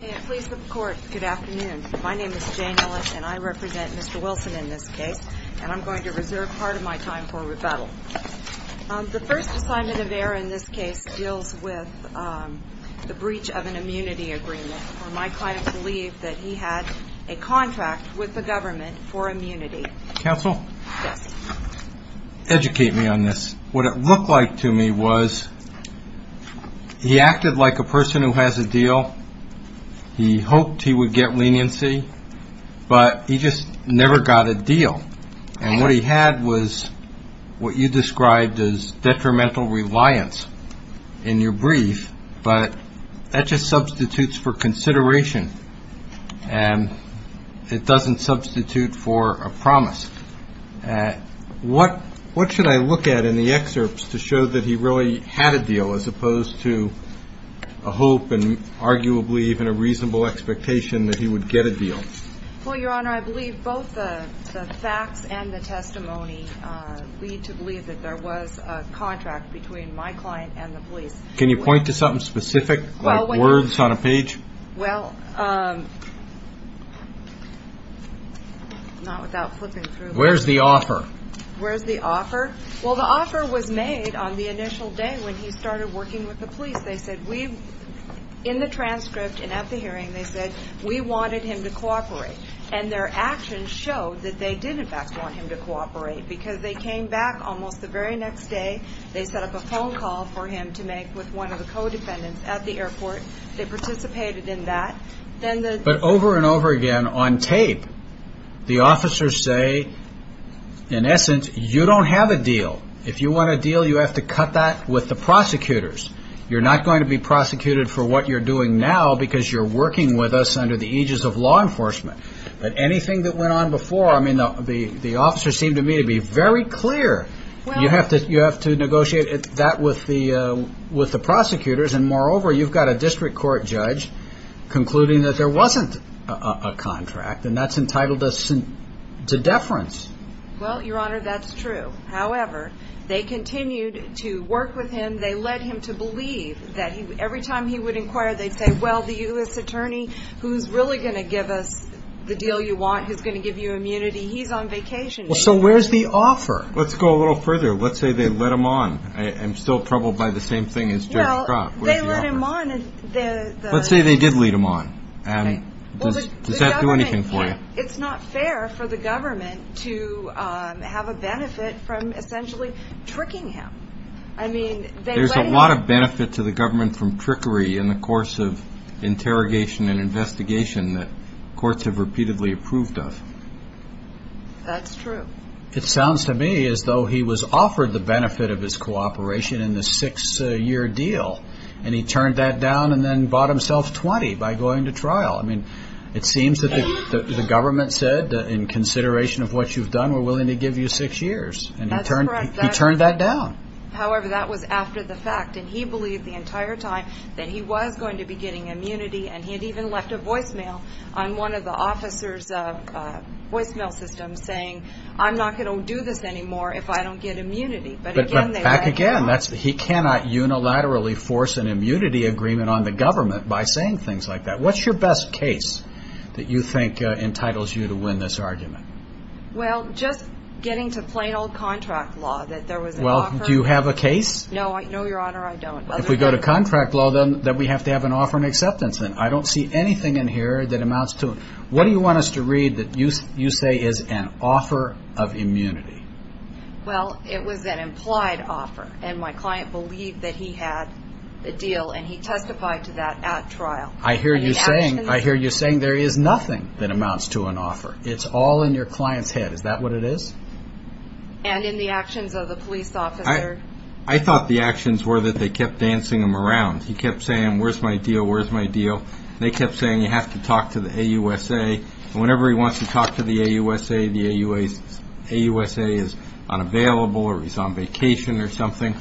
I represent Mr. Wilson in this case and I'm going to reserve part of my time for rebuttal. The first assignment of error in this case deals with the breach of an immunity agreement. My client believed that he had a contract with the government for immunity. Counsel? Yes. Educate me on this. What it looked like to me was he acted like a person who has a deal. He hoped he would get leniency, but he just never got a deal. And what he had was what you described as detrimental reliance in your brief. But that just substitutes for consideration and it doesn't substitute for a promise. What should I look at in the excerpts to show that he really had a deal as opposed to a hope and arguably even a reasonable expectation that he would get a deal? Well, Your Honor, I believe both the facts and the testimony lead to believe that there was a contract between my client and the police. Can you point to something specific like words on a page? Well, not without flipping through. Where's the offer? Where's the offer? Well, the offer was made on the initial day when he started working with the police. They said we, in the transcript and at the hearing, they said we wanted him to cooperate. And their actions showed that they did, in fact, want him to cooperate because they came back almost the very next day. They set up a phone call for him to make with one of the co-defendants at the airport. They participated in that. But over and over again on tape, the officers say, in essence, you don't have a deal. If you want a deal, you have to cut that with the prosecutors. You're not going to be prosecuted for what you're doing now because you're working with us under the aegis of law enforcement. But anything that went on before, I mean, the officers seemed to me to be very clear. You have to negotiate that with the prosecutors. And moreover, you've got a district court judge concluding that there wasn't a contract, and that's entitled us to deference. Well, Your Honor, that's true. However, they continued to work with him. They led him to believe that every time he would inquire, they'd say, well, the U.S. attorney who's really going to give us the deal you want, who's going to give you immunity, he's on vacation. So where's the offer? Let's go a little further. Let's say they led him on. I'm still troubled by the same thing as Judge Crock. Where's the offer? Well, they led him on. Let's say they did lead him on. Does that do anything for you? It's not fair for the government to have a benefit from essentially tricking him. There's a lot of benefit to the government from trickery in the course of interrogation and investigation that courts have repeatedly approved of. That's true. It sounds to me as though he was offered the benefit of his cooperation in the six-year deal, and he turned that down and then bought himself 20 by going to trial. I mean, it seems that the government said, in consideration of what you've done, we're willing to give you six years. That's correct. And he turned that down. However, that was after the fact. And he believed the entire time that he was going to be getting immunity, and he had even left a voicemail on one of the officers' voicemail systems saying, I'm not going to do this anymore if I don't get immunity. But again, they led him on. But back again, he cannot unilaterally force an immunity agreement on the government by saying things like that. What's your best case that you think entitles you to win this argument? Well, just getting to plain old contract law, that there was an offer. Well, do you have a case? No, Your Honor, I don't. If we go to contract law, then we have to have an offer and acceptance, and I don't see anything in here that amounts to it. What do you want us to read that you say is an offer of immunity? Well, it was an implied offer, and my client believed that he had the deal, and he testified to that at trial. I hear you saying there is nothing that amounts to an offer. It's all in your client's head. Is that what it is? And in the actions of the police officer. I thought the actions were that they kept dancing him around. He kept saying, where's my deal, where's my deal? They kept saying, you have to talk to the AUSA. And whenever he wants to talk to the AUSA, the AUSA is unavailable or he's on vacation or something.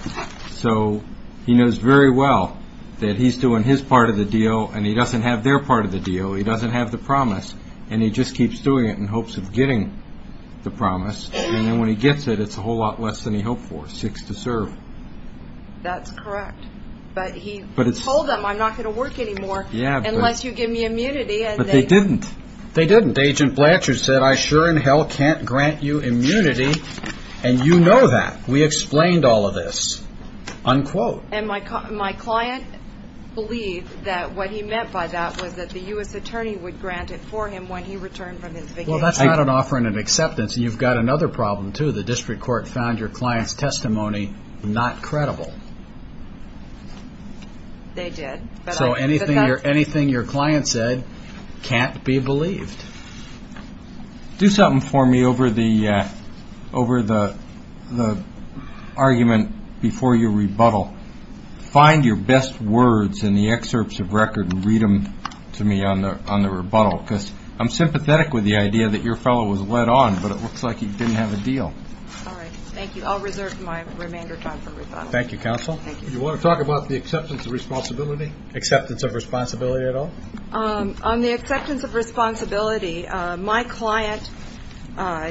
So he knows very well that he's doing his part of the deal, and he doesn't have their part of the deal. He doesn't have the promise, and he just keeps doing it in hopes of getting the promise. And then when he gets it, it's a whole lot less than he hoped for, six to serve. That's correct. But he told them, I'm not going to work anymore unless you give me immunity. But they didn't. They didn't. Agent Blanchard said, I sure in hell can't grant you immunity, and you know that. We explained all of this, unquote. And my client believed that what he meant by that was that the U.S. attorney would grant it for him when he returned from his vacation. Well, that's not an offer and an acceptance, and you've got another problem, too. The district court found your client's testimony not credible. They did. So anything your client said can't be believed. Do something for me over the argument before your rebuttal. Find your best words in the excerpts of record and read them to me on the rebuttal, because I'm sympathetic with the idea that your fellow was let on, but it looks like he didn't have a deal. All right. Thank you. I'll reserve my remainder time for rebuttal. Thank you, counsel. Thank you. Do you want to talk about the acceptance of responsibility, acceptance of responsibility at all? On the acceptance of responsibility, my client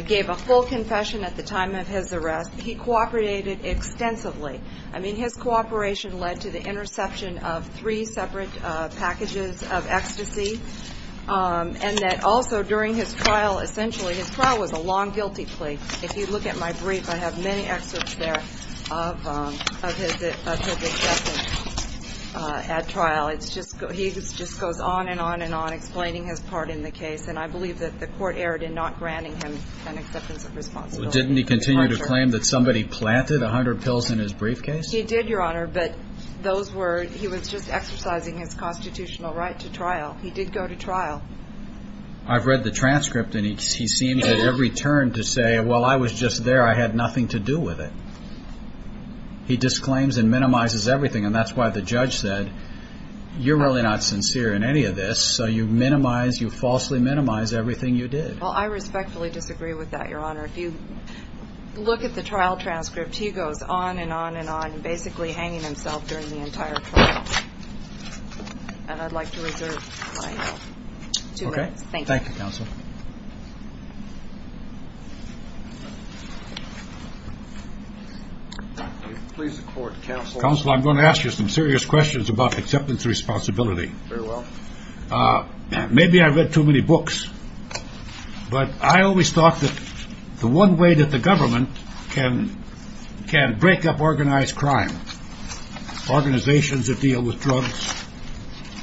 gave a full confession at the time of his arrest. He cooperated extensively. I mean, his cooperation led to the interception of three separate packages of ecstasy, and that also during his trial, essentially his trial was a long guilty plea. If you look at my brief, I have many excerpts there of his acceptance at trial. He just goes on and on and on explaining his part in the case, and I believe that the court erred in not granting him an acceptance of responsibility. Didn't he continue to claim that somebody planted 100 pills in his briefcase? He did, Your Honor, but he was just exercising his constitutional right to trial. He did go to trial. I've read the transcript, and he seems at every turn to say, well, I was just there. I had nothing to do with it. He disclaims and minimizes everything, and that's why the judge said, you're really not sincere in any of this, so you falsely minimize everything you did. Well, I respectfully disagree with that, Your Honor. If you look at the trial transcript, he goes on and on and on, basically hanging himself during the entire trial, and I'd like to reserve my two minutes. Thank you. Thank you, Counsel. Counsel, I'm going to ask you some serious questions about acceptance of responsibility. Very well. Maybe I read too many books, but I always thought that the one way that the government can break up organized crime, organizations that deal with drugs,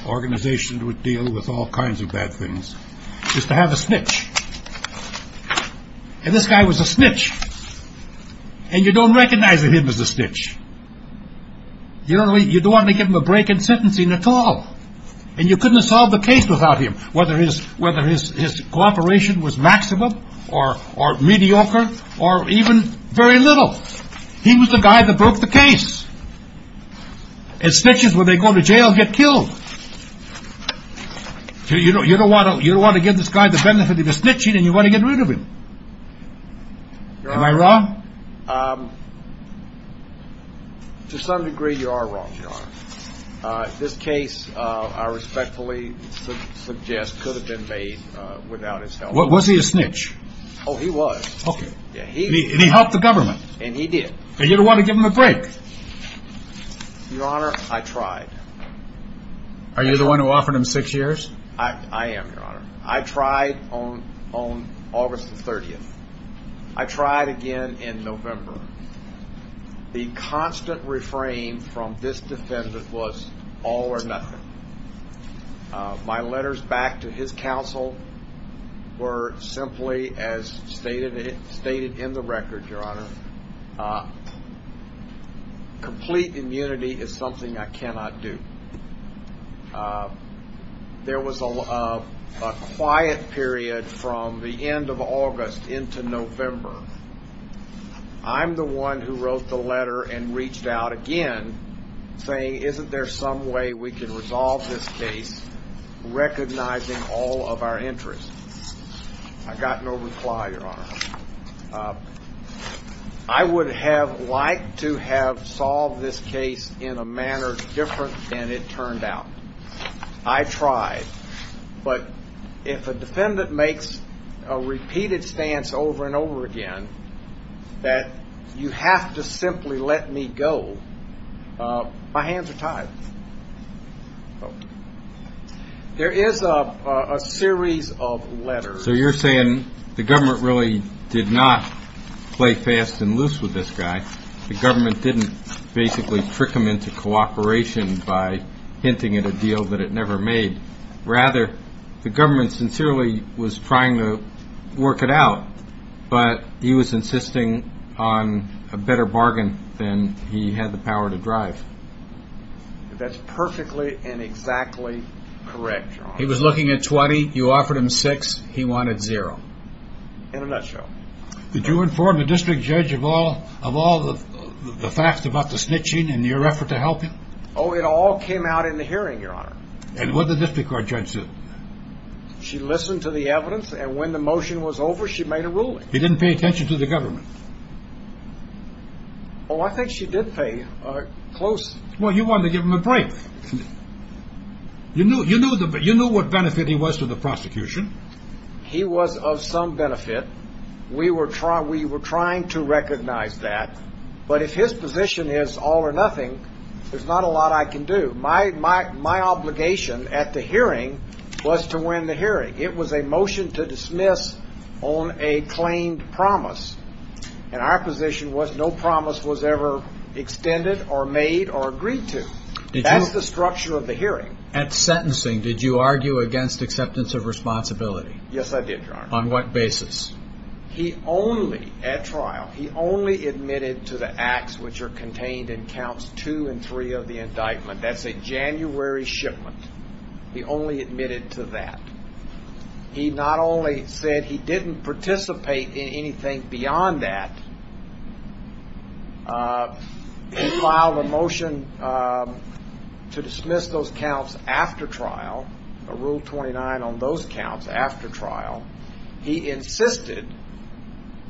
organizations that deal with all kinds of bad things, is to have a snitch. And this guy was a snitch, and you don't recognize him as a snitch. You don't want to give him a break in sentencing at all, and you couldn't have solved the case without him, whether his cooperation was maximum or mediocre, or even very little. He was the guy that broke the case. And snitches, when they go to jail, get killed. You don't want to give this guy the benefit of the snitching, and you want to get rid of him. Am I wrong? To some degree, you are wrong, Your Honor. This case, I respectfully suggest, could have been made without his help. Was he a snitch? Oh, he was. And he helped the government? And he did. And you don't want to give him a break? Your Honor, I tried. Are you the one who offered him six years? I am, Your Honor. I tried on August the 30th. I tried again in November. The constant refrain from this defendant was, all or nothing. My letters back to his counsel were simply, as stated in the record, Your Honor, complete immunity is something I cannot do. There was a quiet period from the end of August into November. I'm the one who wrote the letter and reached out again, saying, isn't there some way we can resolve this case recognizing all of our interests? I got no reply, Your Honor. I would have liked to have solved this case in a manner different than it turned out. I tried. But if a defendant makes a repeated stance over and over again that you have to simply let me go, my hands are tied. There is a series of letters. So you're saying the government really did not play fast and loose with this guy. The government didn't basically trick him into cooperation by hinting at a deal that it never made. Rather, the government sincerely was trying to work it out, but he was insisting on a better bargain than he had the power to drive. That's perfectly and exactly correct, Your Honor. He was looking at 20. You offered him six. He wanted zero. In a nutshell. Did you inform the district judge of all the facts about the snitching and your effort to help him? Oh, it all came out in the hearing, Your Honor. And what did the district court judge say? She listened to the evidence, and when the motion was over, she made a ruling. He didn't pay attention to the government. Oh, I think she did pay close attention. Well, you wanted to give him a break. You knew what benefit he was to the prosecution. He was of some benefit. We were trying to recognize that. But if his position is all or nothing, there's not a lot I can do. My obligation at the hearing was to win the hearing. It was a motion to dismiss on a claimed promise. And our position was no promise was ever extended or made or agreed to. That's the structure of the hearing. At sentencing, did you argue against acceptance of responsibility? Yes, I did, Your Honor. On what basis? He only, at trial, he only admitted to the acts which are contained in counts two and three of the indictment. That's a January shipment. He only admitted to that. He not only said he didn't participate in anything beyond that. He filed a motion to dismiss those counts after trial, a rule 29 on those counts after trial. He insisted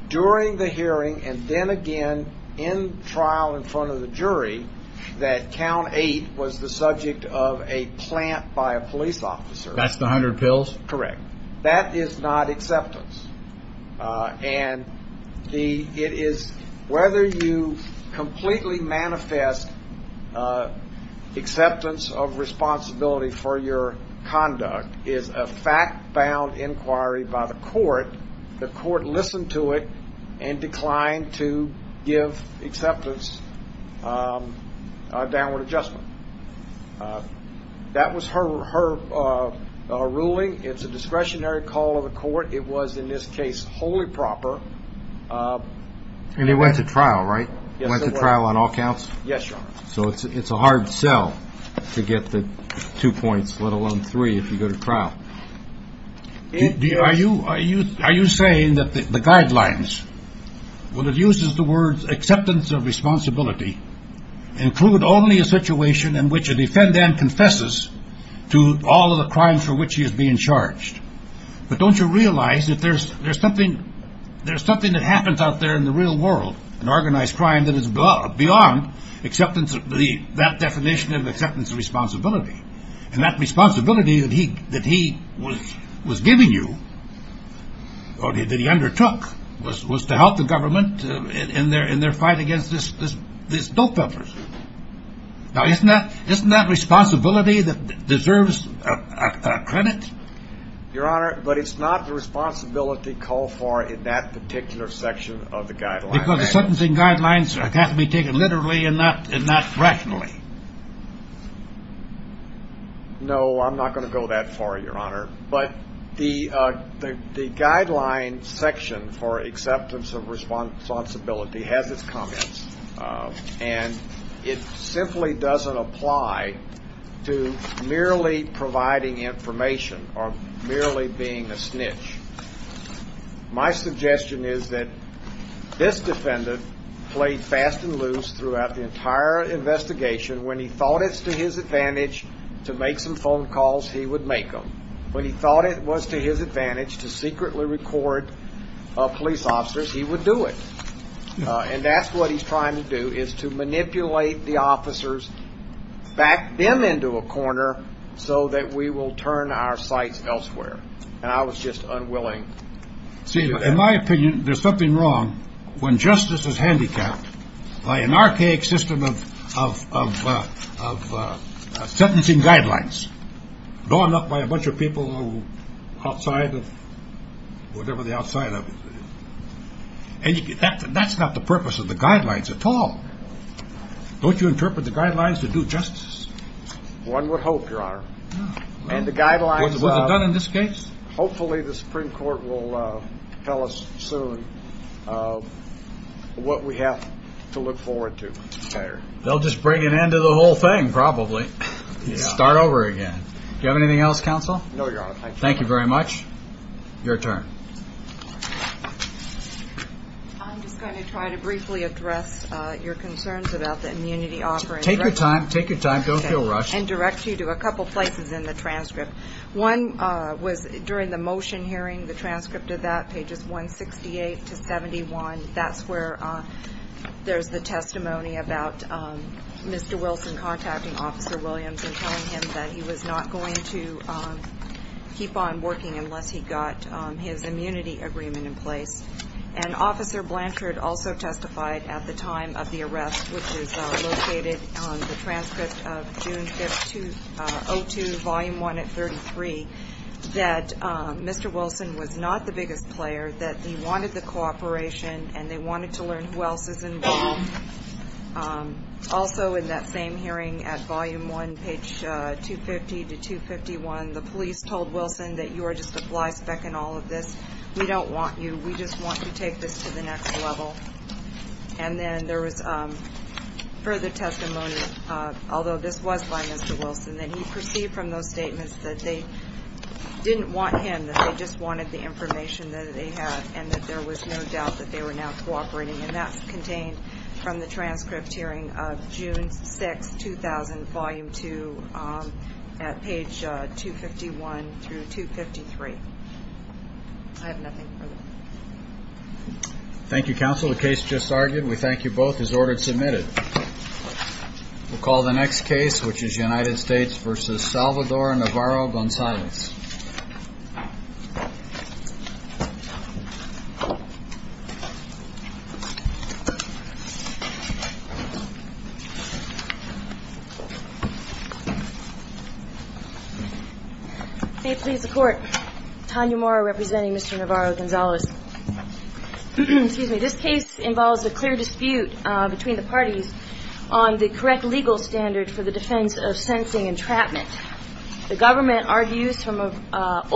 during the hearing and then again in trial in front of the jury that count eight was the subject of a plant by a police officer. That's the hundred pills? Correct. That is not acceptance. And it is whether you completely manifest acceptance of responsibility for your conduct is a fact-bound inquiry by the court. The court listened to it and declined to give acceptance a downward adjustment. That was her ruling. It's a discretionary call of the court. It was, in this case, wholly proper. And he went to trial, right? Went to trial on all counts? Yes, Your Honor. So it's a hard sell to get the two points, let alone three, if you go to trial. Are you saying that the guidelines, when it uses the words acceptance of responsibility, include only a situation in which a defendant confesses to all of the crimes for which he is being charged? But don't you realize that there's something that happens out there in the real world, an organized crime that is beyond that definition of acceptance of responsibility? And that responsibility that he was giving you, or that he undertook, was to help the government in their fight against these dope-dumpers. Now, isn't that responsibility that deserves credit? Your Honor, but it's not the responsibility called for in that particular section of the guidelines. Because the sentencing guidelines have to be taken literally and not rationally. No, I'm not going to go that far, Your Honor. But the guideline section for acceptance of responsibility has its comments, and it simply doesn't apply to merely providing information or merely being a snitch. My suggestion is that this defendant played fast and loose throughout the entire investigation. When he thought it was to his advantage to make some phone calls, he would make them. When he thought it was to his advantage to secretly record police officers, he would do it. And that's what he's trying to do, is to manipulate the officers, back them into a corner, so that we will turn our sights elsewhere. And I was just unwilling to do that. See, in my opinion, there's something wrong when justice is handicapped by an archaic system of sentencing guidelines, blown up by a bunch of people outside of whatever the outside of it is. And that's not the purpose of the guidelines at all. Don't you interpret the guidelines to do justice? One would hope, Your Honor. Was it done in this case? Hopefully the Supreme Court will tell us soon what we have to look forward to. They'll just bring an end to the whole thing, probably. Start over again. Do you have anything else, Counsel? No, Your Honor. Thank you. Thank you very much. Your turn. I'm just going to try to briefly address your concerns about the immunity offering. Take your time. Take your time. Don't feel rushed. And direct you to a couple places in the transcript. One was during the motion hearing, the transcript of that, pages 168 to 71. That's where there's the testimony about Mr. Wilson contacting Officer Williams and telling him that he was not going to keep on working unless he got his immunity agreement in place. And Officer Blanchard also testified at the time of the arrest, which is located on the transcript of June 5th, 2002, Volume 1 at 33, that Mr. Wilson was not the biggest player, that he wanted the cooperation, and they wanted to learn who else is involved. Also in that same hearing at Volume 1, page 250 to 251, the police told Wilson that you are just a fly speck in all of this. We don't want you. We just want you to take this to the next level. And then there was further testimony, although this was by Mr. Wilson, that he perceived from those statements that they didn't want him, that they just wanted the information that they had, and that there was no doubt that they were now cooperating. And that's contained from the transcript hearing of June 6th, 2000, Volume 2, at page 251 through 253. I have nothing further. Thank you, Counsel. The case just argued. We thank you both as ordered submitted. We'll call the next case, which is United States v. Salvador Navarro-Gonzalez. May it please the Court. Tanya Mora representing Mr. Navarro-Gonzalez. Excuse me. This case involves a clear dispute between the parties on the correct legal standard for the defense of sentencing entrapment. The government argues from a...